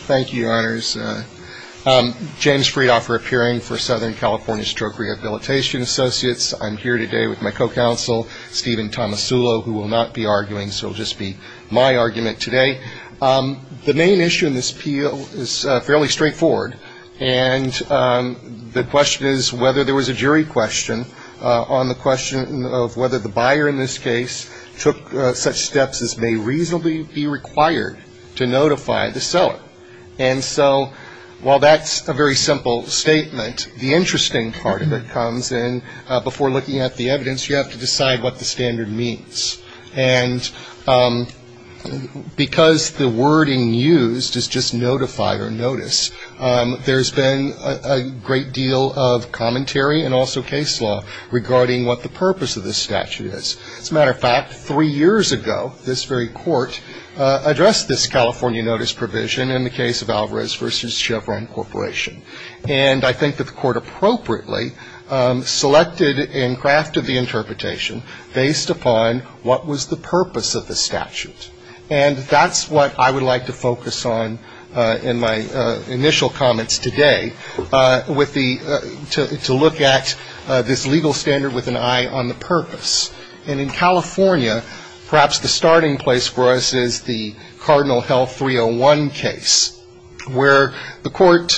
Thank you, Your Honors. James Friedhofer, appearing for Southern California Stroke Rehabilitation Associates. I'm here today with my co-counsel, Steven Tomasulo, who will not be arguing, so it will just be my argument today. The main issue in this appeal is fairly straightforward, and the question is whether there was a jury question on the question of whether the buyer in this case took such steps as may reasonably be required to notify the seller. And so while that's a very simple statement, the interesting part of it comes in, before looking at the evidence, you have to decide what the standard means. And because the wording used is just notify or notice, there's been a great deal of commentary and also case law regarding what the purpose of this statute is. As a matter of fact, three years ago, this very court addressed this California notice provision in the case of Alvarez v. Chevron Corporation. And I think that the court appropriately selected and crafted the interpretation based upon what was the purpose of the statute. And that's what I would like to focus on in my initial comments today, with the to look at this legal standard with an emphasis and eye on the purpose. And in California, perhaps the starting place for us is the Cardinal Health 301 case, where the court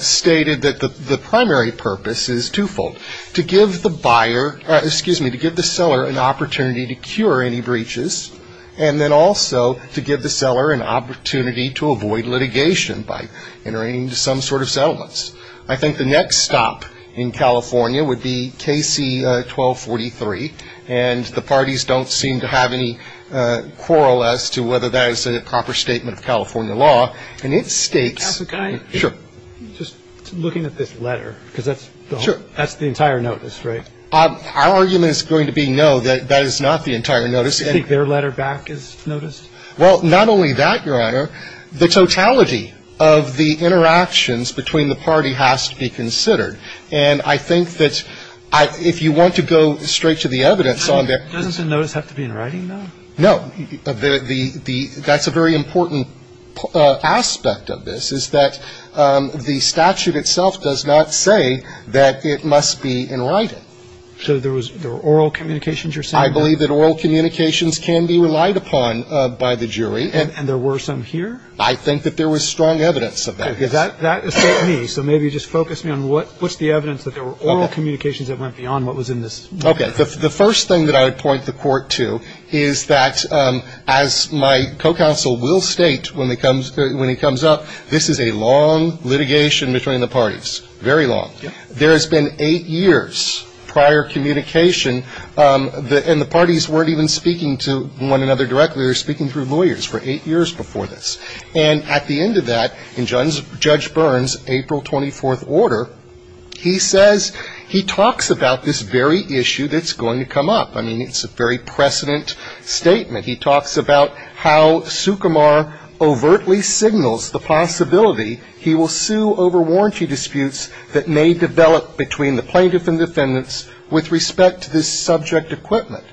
stated that the primary purpose is twofold, to give the buyer, excuse me, to give the seller an opportunity to cure any breaches, and then also to give the seller an opportunity to avoid litigation by entering into some sort of settlements. I think the next stop in California would be KC 1243, and the parties don't seem to have any quarrel as to whether that is a proper statement of California law. And it states — Justice, can I — Sure. — just looking at this letter, because that's the entire notice, right? Our argument is going to be no, that that is not the entire notice. Do you think their letter back is noticed? Well, not only that, Your Honor, the totality of the interactions between the party has to be considered. And I think that if you want to go straight to the evidence on that — Doesn't the notice have to be in writing, though? No. That's a very important aspect of this, is that the statute itself does not say that it must be in writing. So there was — there were oral communications you're saying? I believe that oral communications can be relied upon by the jury. And there were some here? I think that there was strong evidence of that. Okay. That is not me. So maybe just focus me on what's the evidence that there were oral communications that went beyond what was in this letter? Okay. The first thing that I would point the Court to is that, as my co-counsel will state when he comes up, this is a long litigation between the parties, very long. There has been eight years prior communication, and the parties weren't even speaking to one another directly. They were speaking through lawyers for eight years before this. And at the end of that, in Judge Byrne's April 24th order, he says — he talks about this very issue that's going to come up. I mean, it's a very precedent statement. He talks about how Sukumar overtly signals the possibility he will sue over warranty disputes that may develop between the plaintiff and defendants with respect to this subject equipment.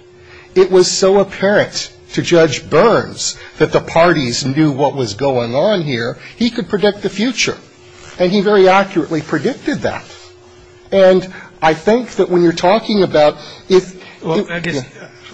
It was so apparent to Judge Byrne's that the parties knew what was going on here, he could predict the future. And he very accurately predicted that. And I think that when you're talking about — Well, I guess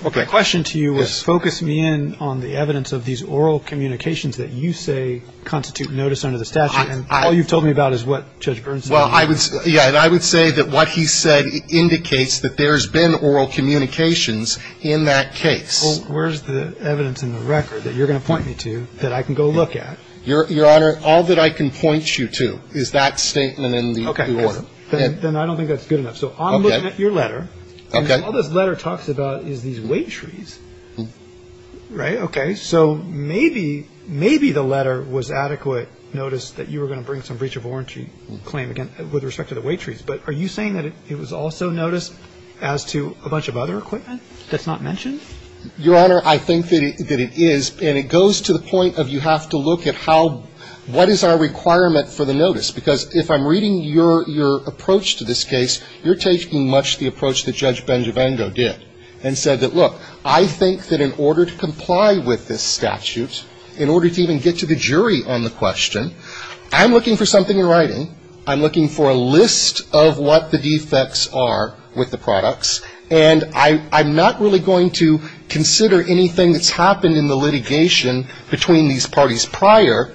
the question to you is, focus me in on the evidence of these oral communications that you say constitute notice under the statute. And all you've told me about is what Judge Byrne said. Well, I would — yeah, and I would say that what he said indicates that there's been oral communications in that case. Well, where's the evidence in the record that you're going to point me to that I can go look at? Your Honor, all that I can point you to is that statement in the — Okay, because then I don't think that's good enough. So I'm looking at your letter, and all this letter talks about is these waitrees. Right? Okay. So maybe — maybe the letter was adequate notice that you were going to bring some breach of warranty claim, again, with respect to the waitrees. But are you saying that it was also notice as to a bunch of other equipment that's not mentioned? Your Honor, I think that it is. And it goes to the point of you have to look at how — what is our requirement for the notice? Because if I'm reading your approach to this case, you're taking much the approach that Judge Benjavengo did and said that, look, I think that in order to comply with this statute, in order to even get to the jury on the question, I'm looking for something in writing, I'm looking for a list of what the defects are with the products, and I'm not really going to consider anything that's happened in the litigation between these parties prior,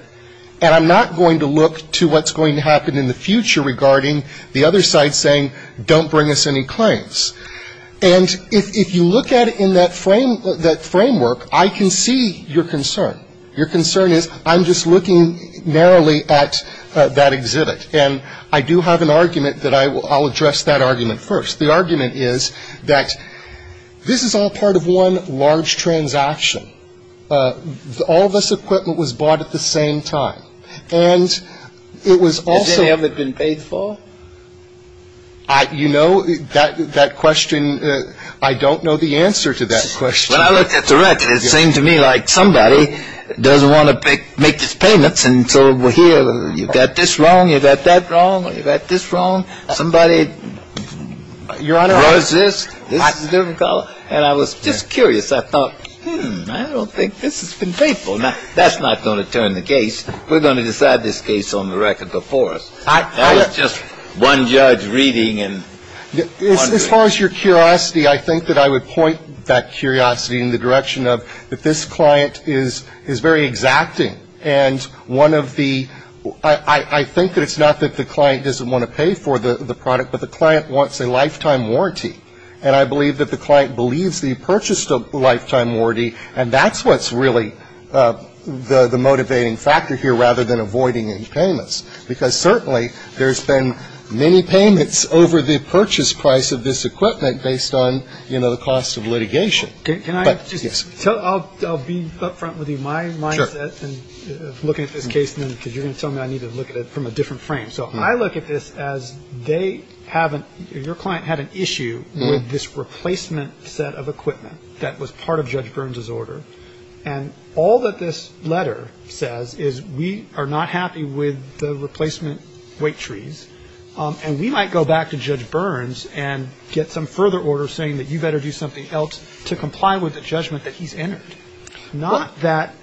and I'm not going to look to what's going to happen in the future regarding the other side saying, don't bring us any claims. And if you look at it in that frame — that framework, I can see your concern. Your concern is, I'm just looking narrowly at that exhibit. And I do have an argument that I will — I'll address that argument first. The argument is that this is all part of one large transaction. All of this equipment was bought at the same time. And it was also — Has any of it been paid for? You know, that question — I don't know the answer to that question. When I looked at the record, it seemed to me like somebody doesn't want to make these payments, and so we're here, you've got this wrong, you've got that wrong, you've got this wrong. Somebody grows this, this is a different color. And I was just curious. I thought, hmm, I don't think this has been paid for. Now, that's not going to turn the case. We're going to decide this case on the record before us. That was just one judge reading and wondering. As far as your curiosity, I think that I would point that curiosity in the direction of that this client is very exacting. And one of the — I think that it's not that the client doesn't want to pay for the product, but the client wants a lifetime warranty. And I believe that the client believes that he purchased a lifetime warranty. And that's what's really the motivating factor here, rather than avoiding any payments. Because certainly, there's been many payments over the purchase price of this equipment based on, you know, the cost of litigation. But — Can I just tell — I'll be up front with you. Sure. My mindset in looking at this case, because you're going to tell me I need to look at it from a different frame. So I look at this as they haven't — your client had an issue with this replacement set of equipment that was part of Judge Burns' order. And all that this letter says is we are not happy with the replacement weight trees, and we might go back to Judge Burns and get some further order saying that you better do something else to comply with the judgment that he's entered. Not that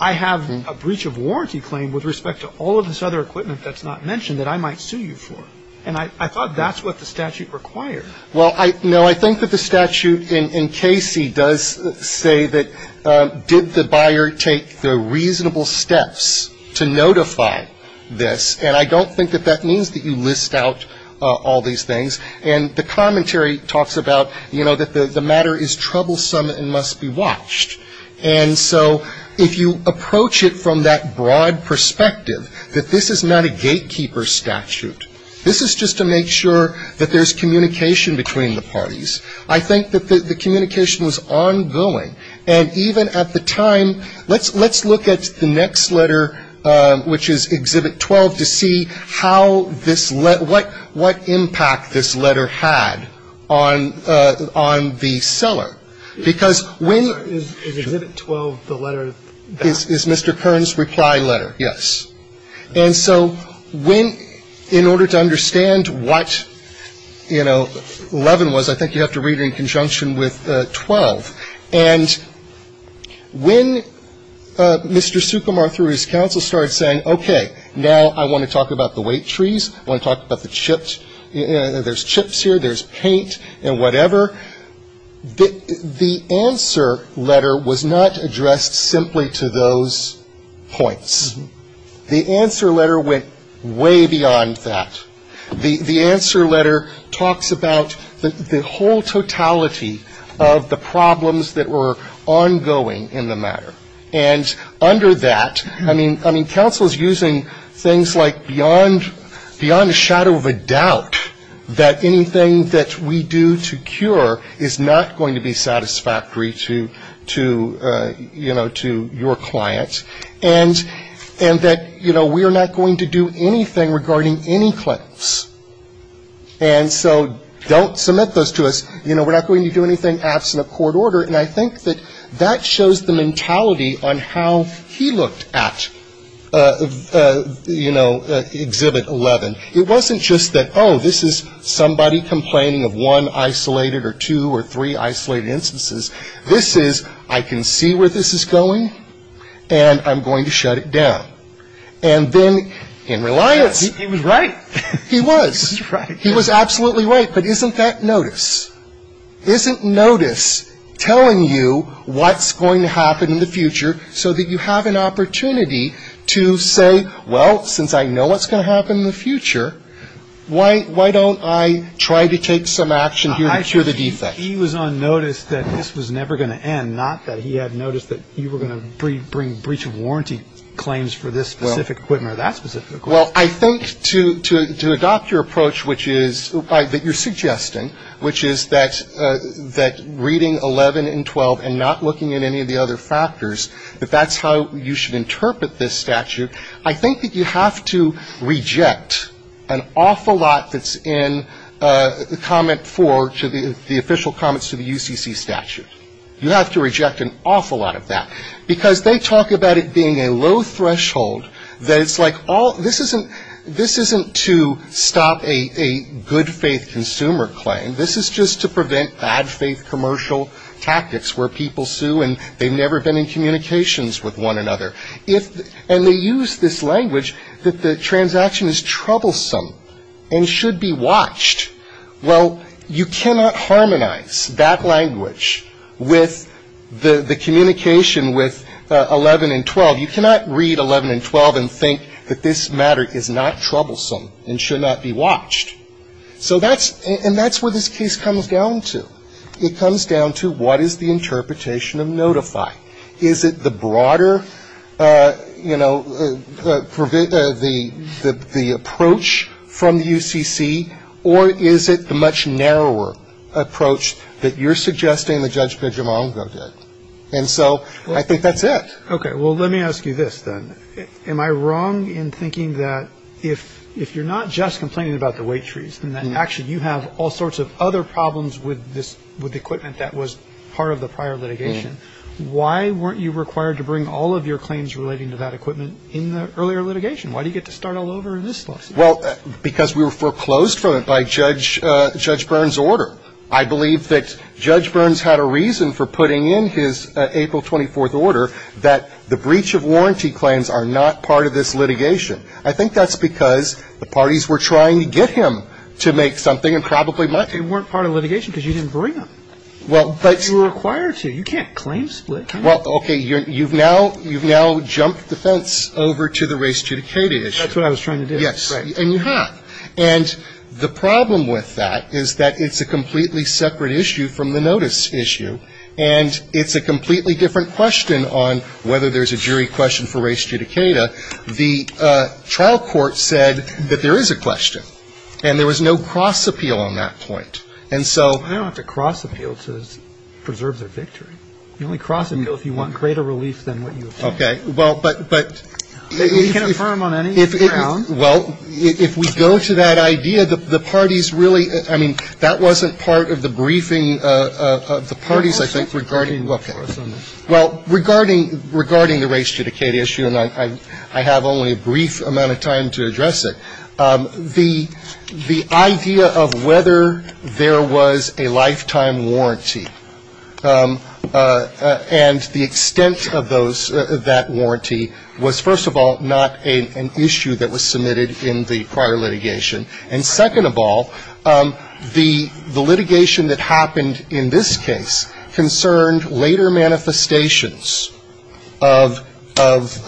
I have a breach of warranty claim with respect to all of this other equipment that's not mentioned that I might sue you for. And I thought that's what the statute required. Well, no, I think that the statute in Casey does say that did the buyer take the reasonable steps to notify this? And I don't think that that means that you list out all these things. And the commentary talks about, you know, that the matter is troublesome and must be watched. And so if you approach it from that broad perspective, that this is not a gatekeeper statute. This is just to make sure that there's communication between the parties. I think that the communication was ongoing. And even at the time — let's look at the next letter, which is Exhibit 12, to see how this — what impact this letter had on the seller. Because when — Is Exhibit 12 the letter that — Is Mr. Kern's reply letter, yes. And so when — in order to understand what, you know, 11 was, I think you have to read it in conjunction with 12. And when Mr. Sukumar, through his counsel, started saying, okay, now I want to talk about the weight trees, I want to talk about the chips — there's chips here, there's paint and whatever, the answer letter was not addressed simply to those points. The answer letter went way beyond that. The answer letter talks about the whole totality of the problems that were ongoing in the matter. And under that — I mean, counsel's using things like beyond a shadow of a doubt that anything that we do to cure is not going to be satisfactory to, you know, to your clients. And that, you know, we are not going to do anything regarding any clients. And so don't submit those to us. You know, we're not going to do anything absent of court order. And I think that that shows the mentality on how he looked at, you know, Exhibit 11. It wasn't just that, oh, this is somebody complaining of one isolated or two or three isolated instances. This is, I can see where this is going, and I'm going to shut it down. And then, in reliance — He was right. He was. He was right. He was absolutely right. But isn't that notice? Isn't notice telling you what's going to happen in the future so that you have an opportunity to say, well, since I know what's going to happen in the future, why don't I try to take some action here to cure the defect? But he was on notice that this was never going to end, not that he had notice that you were going to bring breach of warranty claims for this specific equipment or that specific equipment. Well, I think to adopt your approach, which is — that you're suggesting, which is that reading 11 and 12 and not looking at any of the other factors, if that's how you should interpret this statute, I think that you have to reject an awful lot that's in Comment 4 to the official comments to the UCC statute. You have to reject an awful lot of that, because they talk about it being a low threshold that it's like all — this isn't — this isn't to stop a good-faith consumer claim. This is just to prevent bad-faith commercial tactics where people sue, and they've never been in communications with one another. And they use this language that the transaction is troublesome and should be watched. Well, you cannot harmonize that language with the communication with 11 and 12. You cannot read 11 and 12 and think that this matter is not troublesome and should not be watched. So that's — and that's where this case comes down to. It comes down to what is the interpretation of notify? Is it the broader, you know, the approach from the UCC, or is it the much narrower approach that you're suggesting that Judge Piedramongo did? And so I think that's it. Okay. Well, let me ask you this, then. Am I wrong in thinking that if you're not just complaining about the wait trees and of the prior litigation, why weren't you required to bring all of your claims relating to that equipment in the earlier litigation? Why do you get to start all over in this lawsuit? Well, because we were foreclosed from it by Judge — Judge Byrne's order. I believe that Judge Byrne's had a reason for putting in his April 24th order that the breach of warranty claims are not part of this litigation. I think that's because the parties were trying to get him to make something and probably let him. But they weren't part of the litigation because you didn't bring them. Well, but — You were required to. You can't claim split. Well, okay, you've now — you've now jumped the fence over to the res judicata issue. That's what I was trying to do. Yes. Right. And you have. And the problem with that is that it's a completely separate issue from the notice issue, and it's a completely different question on whether there's a jury question for res judicata. The trial court said that there is a question. And there was no cross appeal on that point. And so — Well, they don't have to cross appeal to preserve their victory. The only cross appeal is if you want greater relief than what you obtained. Okay. Well, but — but — You can't affirm on any ground. Well, if we go to that idea, the parties really — I mean, that wasn't part of the briefing of the parties, I think, regarding — Well, regarding — regarding the res judicata issue, and I have only a brief amount of time to address it. The — the idea of whether there was a lifetime warranty, and the extent of those — that warranty was, first of all, not an issue that was submitted in the prior litigation. And second of all, the litigation that happened in this case concerned later manifestations of — of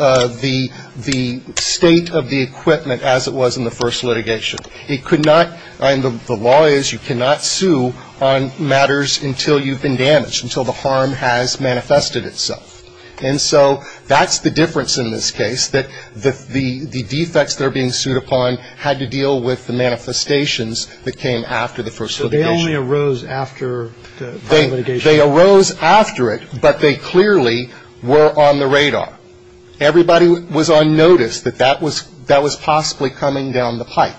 the — the state of the equipment as it was in the first litigation. It could not — and the law is you cannot sue on matters until you've been damaged, until the harm has manifested itself. And so that's the difference in this case, that the — the defects that are being sued upon had to deal with the manifestations that came after the first litigation. So they only arose after the prior litigation? They arose after it, but they clearly were on the radar. Everybody was on notice that that was — that was possibly coming down the pipe.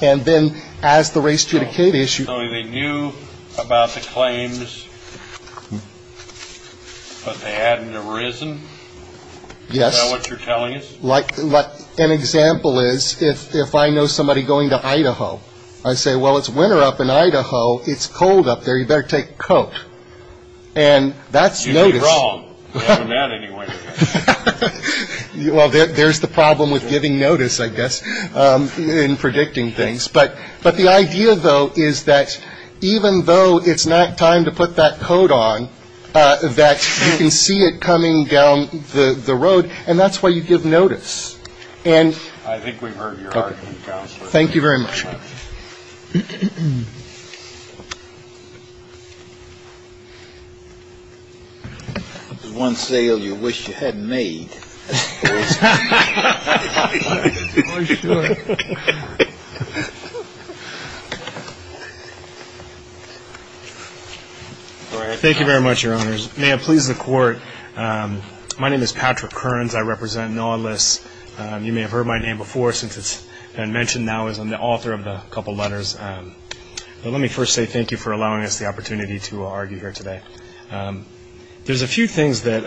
And then, as the res judicata issue — So they knew about the claims, but they hadn't arisen? Yes. Is that what you're telling us? Like — like, an example is, if — if I know somebody going to Idaho, I say, well, it's winter up in Idaho. It's cold up there. You better take coat. And that's notice — You'd be wrong, other than that, anyway. Well, there's the problem with giving notice, I guess, in predicting things. But — but the idea, though, is that even though it's not time to put that coat on, that you can see it coming down the — the road, and that's why you give notice. And — I think we've heard your argument, Counselor. Thank you very much. There's one sale you wish you hadn't made, I suppose. Oh, sure. Go ahead. Thank you very much, Your Honors. May it please the Court, my name is Patrick Kearns. I represent Nautilus. You may have heard my name before, since it's been mentioned now, as I'm the author of a couple letters. But let me first say thank you for allowing us the opportunity to argue here today. There's a few things that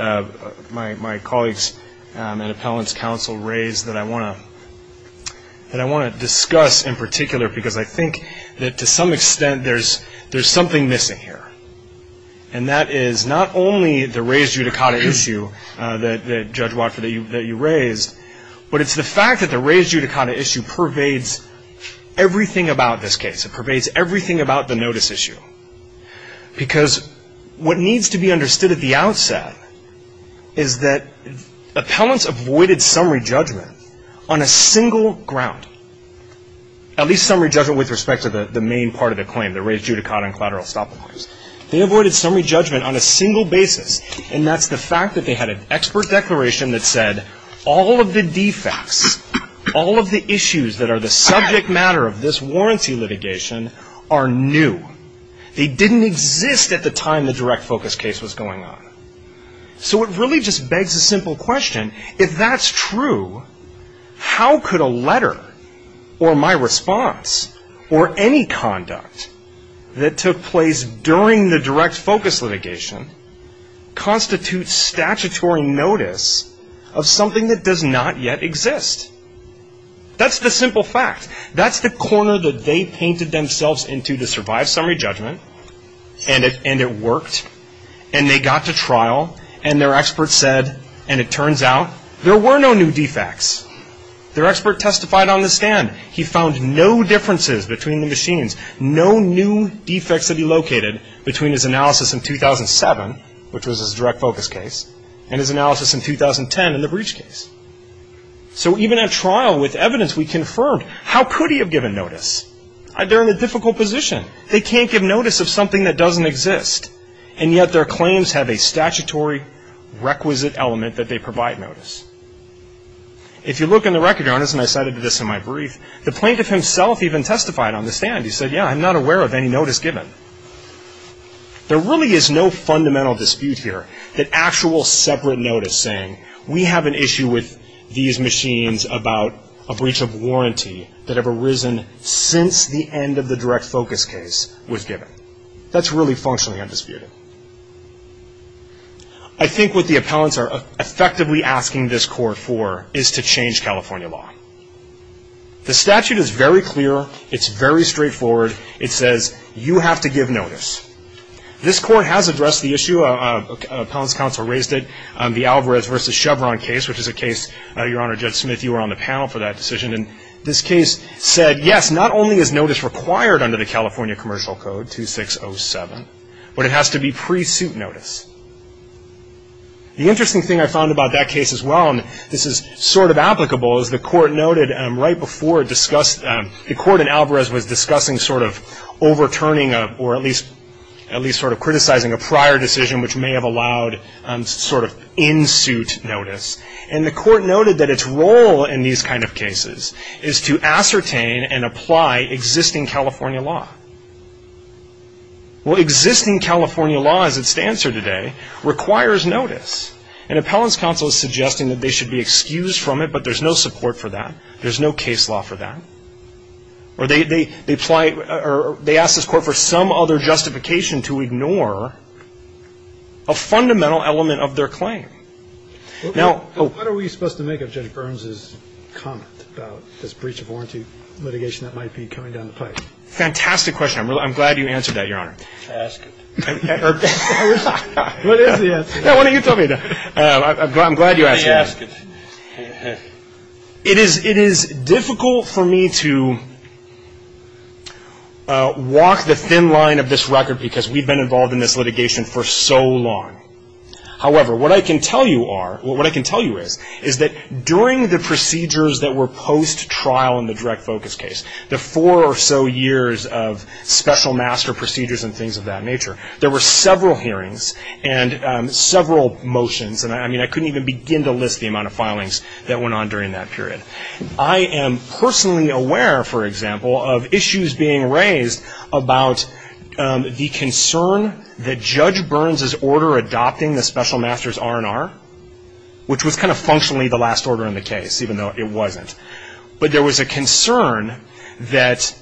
my colleagues at Appellant's Counsel raised that I want to — that I want to discuss in particular, because I think that, to some extent, there's — there's something missing here. And that is not only the raised judicata issue that — that, Judge Walker, that you — that you raised, but it's the fact that the raised judicata issue pervades everything about this case. It pervades everything about the notice issue. Because what needs to be understood at the outset is that Appellant's avoided summary judgment on a single ground, at least summary judgment with respect to the main part of the claim, the raised judicata and collateral estoppel claims. They avoided summary judgment on a single basis, and that's the fact that they had an expert declaration that said, all of the defects, all of the issues that are the subject matter of this warranty litigation are new. They didn't exist at the time the direct focus case was going on. So it really just begs the simple question, if that's true, how could a letter or my response or any conduct that took place during the direct focus litigation constitute statutory notice of something that does not yet exist? That's the simple fact. That's the corner that they painted themselves into to survive summary judgment, and it — and it worked, and they got to trial, and their expert said, and it turns out there were no new defects. Their expert testified on the stand. He found no differences between the machines, no new defects that he located between his analysis in 2007, which was his direct focus case, and his analysis in 2010 in the breach case. So even at trial with evidence we confirmed, how could he have given notice? They're in a difficult position. They can't give notice of something that doesn't exist, and yet their claims have a statutory requisite element that they provide notice. If you look in the record, Your Honor, and I cited this in my brief, the plaintiff himself even testified on the stand. He said, yeah, I'm not aware of any notice given. There really is no fundamental dispute here that actual separate notice saying, we have an issue with these machines about a breach of warranty that have arisen since the end of the direct focus case was given. That's really functionally undisputed. I think what the appellants are effectively asking this court for is to change California law. The statute is very clear. It's very straightforward. It says you have to give notice. This court has addressed the issue. Appellants' counsel raised it, the Alvarez v. Chevron case, which is a case, Your Honor, Judge Smith, you were on the panel for that decision. And this case said, yes, not only is notice required under the California Commercial Code 2607, but it has to be pre-suit notice. The interesting thing I found about that case as well, and this is sort of applicable, is the court noted right before it discussed, the court in Alvarez was discussing sort of overturning or at least sort of criticizing a prior decision which may have allowed sort of in-suit notice. And the court noted that its role in these kind of cases is to ascertain and apply existing California law. Well, existing California law, as it stands here today, requires notice. And appellants' counsel is suggesting that they should be excused from it, but there's no support for that. There's no case law for that. Or they apply or they ask this court for some other justification to ignore a fundamental element of their claim. Now, oh. What are we supposed to make of Judge Burns' comment about this breach of warranty litigation that might be coming down the pipe? Fantastic question. I'm glad you answered that, Your Honor. Ask it. What is the answer? Why don't you tell me? I'm glad you asked it. It is difficult for me to walk the thin line of this record because we've been involved in this litigation for so long. However, what I can tell you is that during the procedures that were post-trial in the direct focus case, the four or so years of special master procedures and things of that nature, there were several hearings, and several motions, and I mean I couldn't even begin to list the amount of filings that went on during that period. I am personally aware, for example, of issues being raised about the concern that Judge Burns' order adopting the special master's R&R, which was kind of functionally the last order in the case, even though it wasn't. But there was a concern that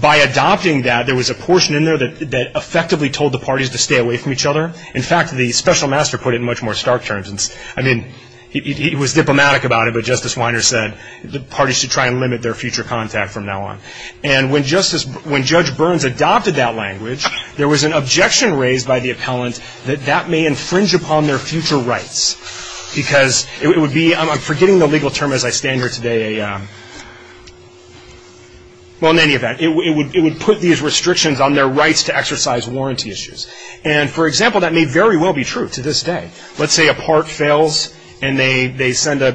by adopting that, there was a portion in there that effectively told the parties to stay away from each other. In fact, the special master put it in much more stark terms. I mean, he was diplomatic about it, but Justice Weiner said the parties should try and limit their future contact from now on. And when Judge Burns adopted that language, there was an objection raised by the appellant that that may infringe upon their future rights because it would be, I'm forgetting the legal term as I stand here today, well, in any event, it would put these restrictions on their rights to exercise warranty issues. And for example, that may very well be true to this day. Let's say a part fails and they send a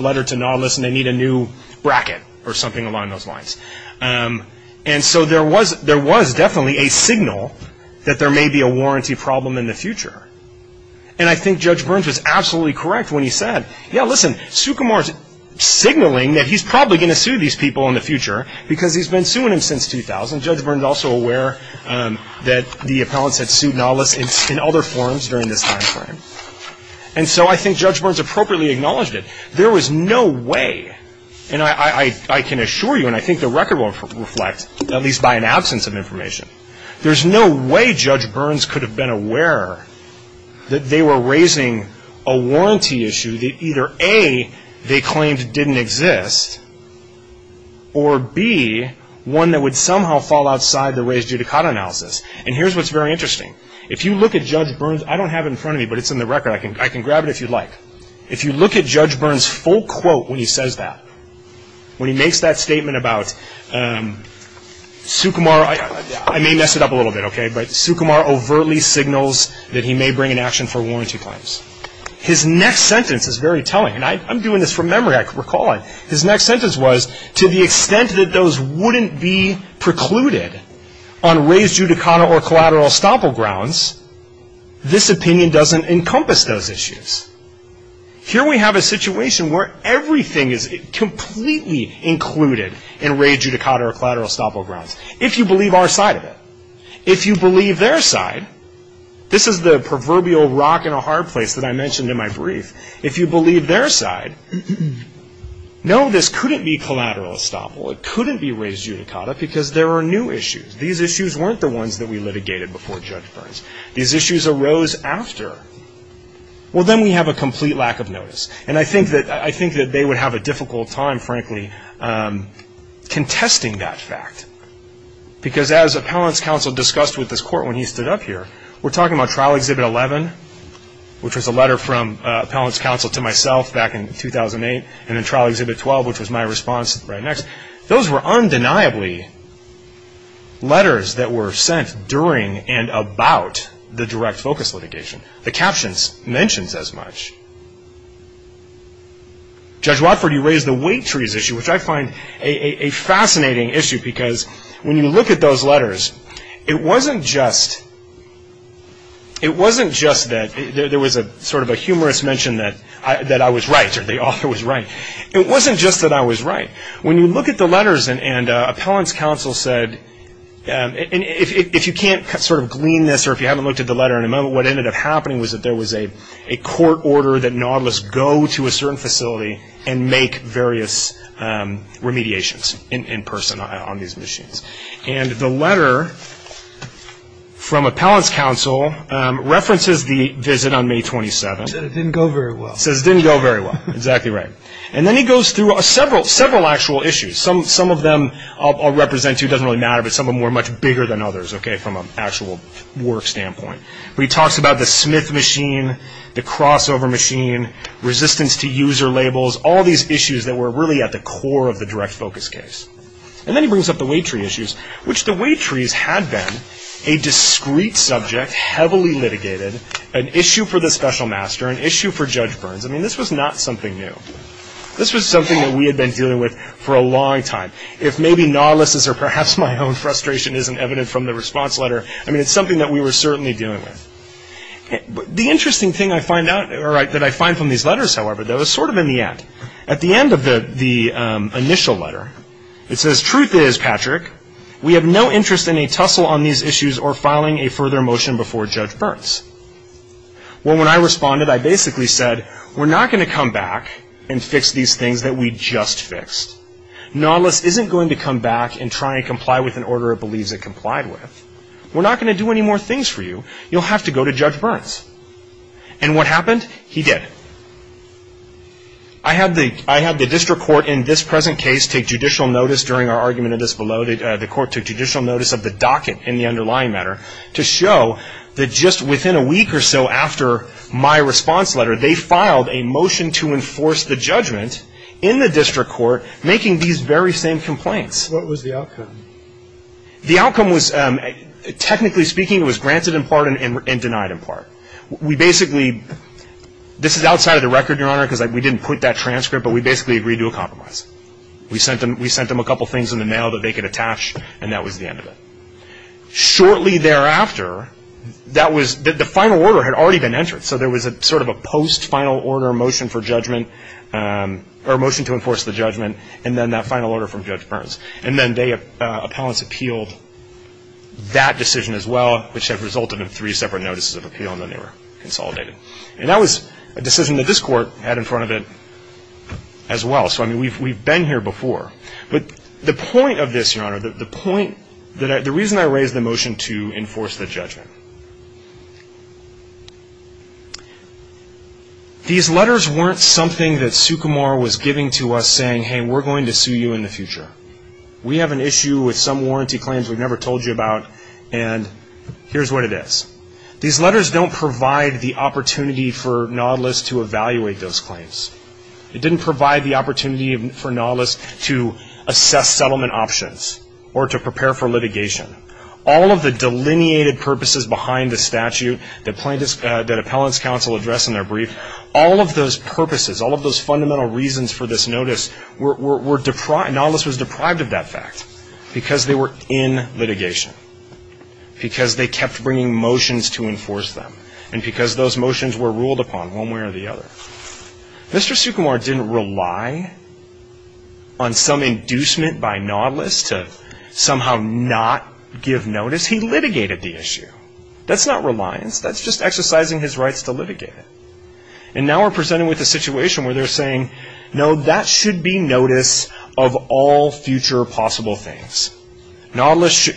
letter to Nautilus and they need a new bracket or something along those lines. And so there was definitely a signal that there may be a warranty problem in the future. And I think Judge Burns was absolutely correct when he said, yeah, listen, Sukumar is signaling that he's probably going to sue these people in the future because he's been suing them since 2000. Judge Burns is also aware that the appellants had sued Nautilus in other forms during this time frame. And so I think Judge Burns appropriately acknowledged it. There was no way, and I can assure you, and I think the record will reflect, at least by an absence of information, there's no way Judge Burns could have been aware that they were raising a warranty issue that either, A, they claimed didn't exist, or B, one that would somehow fall outside the raised judicata analysis. And here's what's very interesting. If you look at Judge Burns, I don't have it in front of me, but it's in the record. I can grab it if you'd like. If you look at Judge Burns' full quote when he says that, when he makes that statement about Sukumar, I may mess it up a little bit, okay, but Sukumar overtly signals that he may bring an action for warranty claims. His next sentence is very telling, and I'm doing this from memory. I recall it. His next sentence was, to the extent that those wouldn't be precluded on raised judicata or collateral estoppel grounds, this opinion doesn't encompass those issues. Here we have a situation where everything is completely included in raised judicata or collateral estoppel grounds. If you believe our side of it, if you believe their side, this is the proverbial rock in a hard place that I mentioned in my brief. If you believe their side, no, this couldn't be collateral estoppel. It couldn't be raised judicata because there are new issues. These issues weren't the ones that we litigated before Judge Burns. These issues arose after. Well, then we have a complete lack of notice, and I think that they would have a difficult time, frankly, contesting that fact because as appellant's counsel discussed with this court when he stood up here, we're talking about Trial Exhibit 11, which was a letter from appellant's counsel to myself back in 2008, and then Trial Exhibit 12, which was my response right next. Those were undeniably letters that were sent during and about the direct focus litigation. The captions mentions as much. Judge Watford, you raised the weight trees issue, which I find a fascinating issue because when you look at those letters, it wasn't just that there was sort of a humorous mention that I was right or the author was right. It wasn't just that I was right. When you look at the letters and appellant's counsel said, and if you can't sort of glean this or if you haven't looked at the letter in a moment, what ended up happening was that there was a court order that Nautilus go to a certain facility and make various remediations in person on these machines. And the letter from appellant's counsel references the visit on May 27. He said it didn't go very well. He says it didn't go very well. Exactly right. And then he goes through several actual issues. Some of them I'll represent to you. It doesn't really matter, but some of them were much bigger than others, okay, from an actual work standpoint. But he talks about the Smith machine, the crossover machine, resistance to user labels, all these issues that were really at the core of the direct focus case. And then he brings up the weight tree issues, which the weight trees had been a discreet subject, heavily litigated, an issue for the special master, an issue for Judge Burns. I mean, this was not something new. This was something that we had been dealing with for a long time. If maybe Nautilus's or perhaps my own frustration isn't evident from the response letter, I mean, it's something that we were certainly dealing with. The interesting thing I find from these letters, however, though, is sort of in the end. At the end of the initial letter, it says, Truth is, Patrick, we have no interest in a tussle on these issues or filing a further motion before Judge Burns. Well, when I responded, I basically said, We're not going to come back and fix these things that we just fixed. Nautilus isn't going to come back and try and comply with an order it believes it complied with. We're not going to do any more things for you. You'll have to go to Judge Burns. And what happened? He did. I had the district court in this present case take judicial notice during our argument of this below. The court took judicial notice of the docket in the underlying matter to show that just within a week or so after my response letter, they filed a motion to enforce the judgment in the district court making these very same complaints. What was the outcome? The outcome was, technically speaking, it was granted in part and denied in part. We basically, this is outside of the record, Your Honor, because we didn't put that transcript, but we basically agreed to a compromise. We sent them a couple things in the mail that they could attach, and that was the end of it. Shortly thereafter, that was, the final order had already been entered, so there was sort of a post-final order motion for judgment, or motion to enforce the judgment, and then that final order from Judge Burns. And then they, appellants, appealed that decision as well, which had resulted in three separate notices of appeal, and then they were consolidated. And that was a decision that this court had in front of it as well. So, I mean, we've been here before. But the point of this, Your Honor, the point, the reason I raised the motion to enforce the judgment, these letters weren't something that Sukumar was giving to us saying, hey, we're going to sue you in the future. We have an issue with some warranty claims we've never told you about, and here's what it is. These letters don't provide the opportunity for Nautilus to evaluate those claims. It didn't provide the opportunity for Nautilus to assess settlement options or to prepare for litigation. All of the delineated purposes behind the statute that appellants counsel address in their brief, all of those purposes, all of those fundamental reasons for this notice, Nautilus was deprived of that fact because they were in litigation, because they kept bringing motions to enforce them, and because those motions were ruled upon one way or the other. Mr. Sukumar didn't rely on some inducement by Nautilus to somehow not give notice. He litigated the issue. That's not reliance. That's just exercising his rights to litigate it. And now we're presented with a situation where they're saying, no, that should be notice of all future possible things. Mr.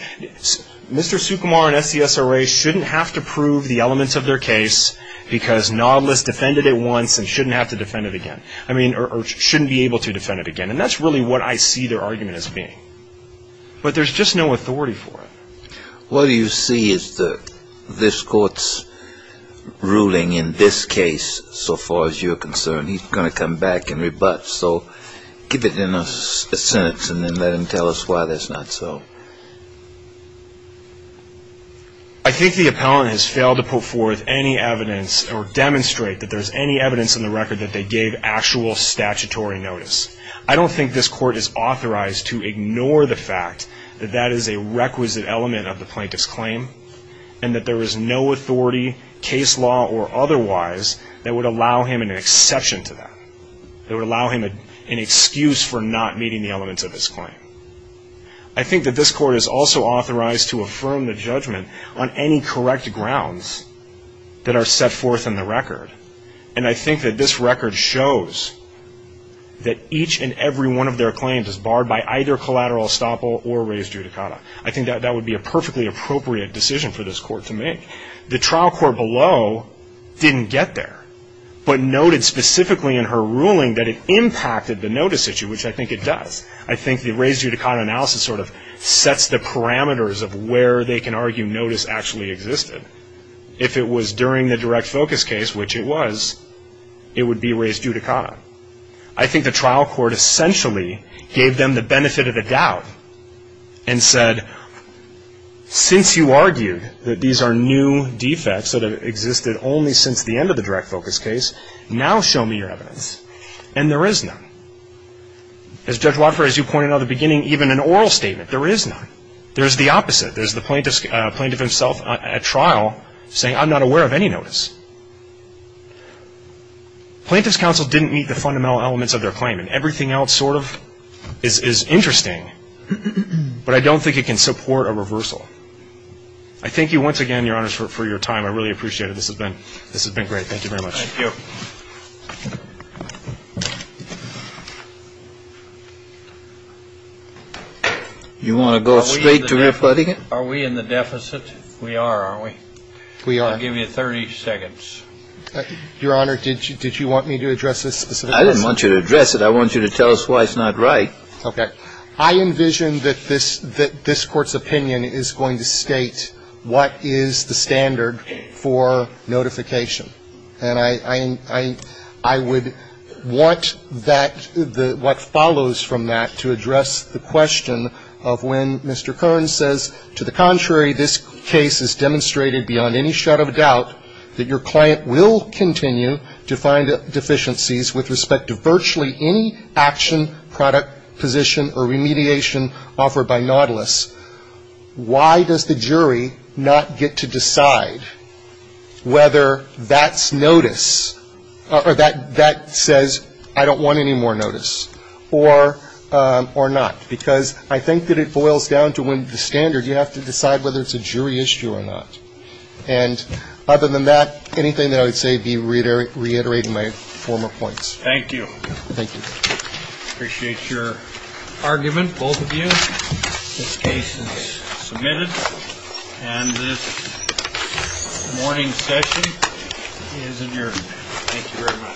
Sukumar and SESRA shouldn't have to prove the elements of their case because Nautilus defended it once and shouldn't have to defend it again. I mean, or shouldn't be able to defend it again. And that's really what I see their argument as being. But there's just no authority for it. What you see is that this court's ruling in this case, so far as you're concerned, he's going to come back and rebut. So give it in a sentence and then let him tell us why that's not so. I think the appellant has failed to put forth any evidence or demonstrate that there's any evidence in the record that they gave actual statutory notice. I don't think this court is authorized to ignore the fact that that is a requisite element of the plaintiff's claim and that there is no authority, case law or otherwise, that would allow him an exception to that, that would allow him an excuse for not meeting the elements of his claim. I think that this court is also authorized to affirm the judgment on any correct grounds that are set forth in the record. And I think that this record shows that each and every one of their claims is barred by either collateral estoppel or raised judicata. I think that that would be a perfectly appropriate decision for this court to make. The trial court below didn't get there but noted specifically in her ruling that it impacted the notice issue, which I think it does. I think the raised judicata analysis sort of sets the parameters of where they can argue notice actually existed. If it was during the direct focus case, which it was, it would be raised judicata. I think the trial court essentially gave them the benefit of the doubt and said, since you argued that these are new defects that have existed only since the end of the direct focus case, now show me your evidence. And there is none. As Judge Watford, as you pointed out at the beginning, even an oral statement, there is none. There's the opposite. There's the plaintiff himself at trial saying, I'm not aware of any notice. Plaintiff's counsel didn't meet the fundamental elements of their claim, and everything else sort of is interesting, but I don't think it can support a reversal. I thank you once again, Your Honors, for your time. I really appreciate it. This has been great. Thank you very much. Thank you. You want to go straight to everybody? Are we in the deficit? We are, aren't we? We are. I'll give you 30 seconds. Your Honor, did you want me to address this specific question? I didn't want you to address it. I want you to tell us why it's not right. Okay. I envision that this Court's opinion is going to state what is the standard for notification. And I would want that, what follows from that, to address the question of when Mr. that your client will continue to find deficiencies with respect to virtually any action, product, position, or remediation offered by Nautilus, why does the jury not get to decide whether that's notice, or that says I don't want any more notice, or not? Because I think that it boils down to when the standard, you have to decide whether it's a jury issue or not. And other than that, anything that I would say would be reiterating my former points. Thank you. Thank you. Appreciate your argument, both of you. This case is submitted. And this morning's session is adjourned. Thank you very much. Thank you. Thank you.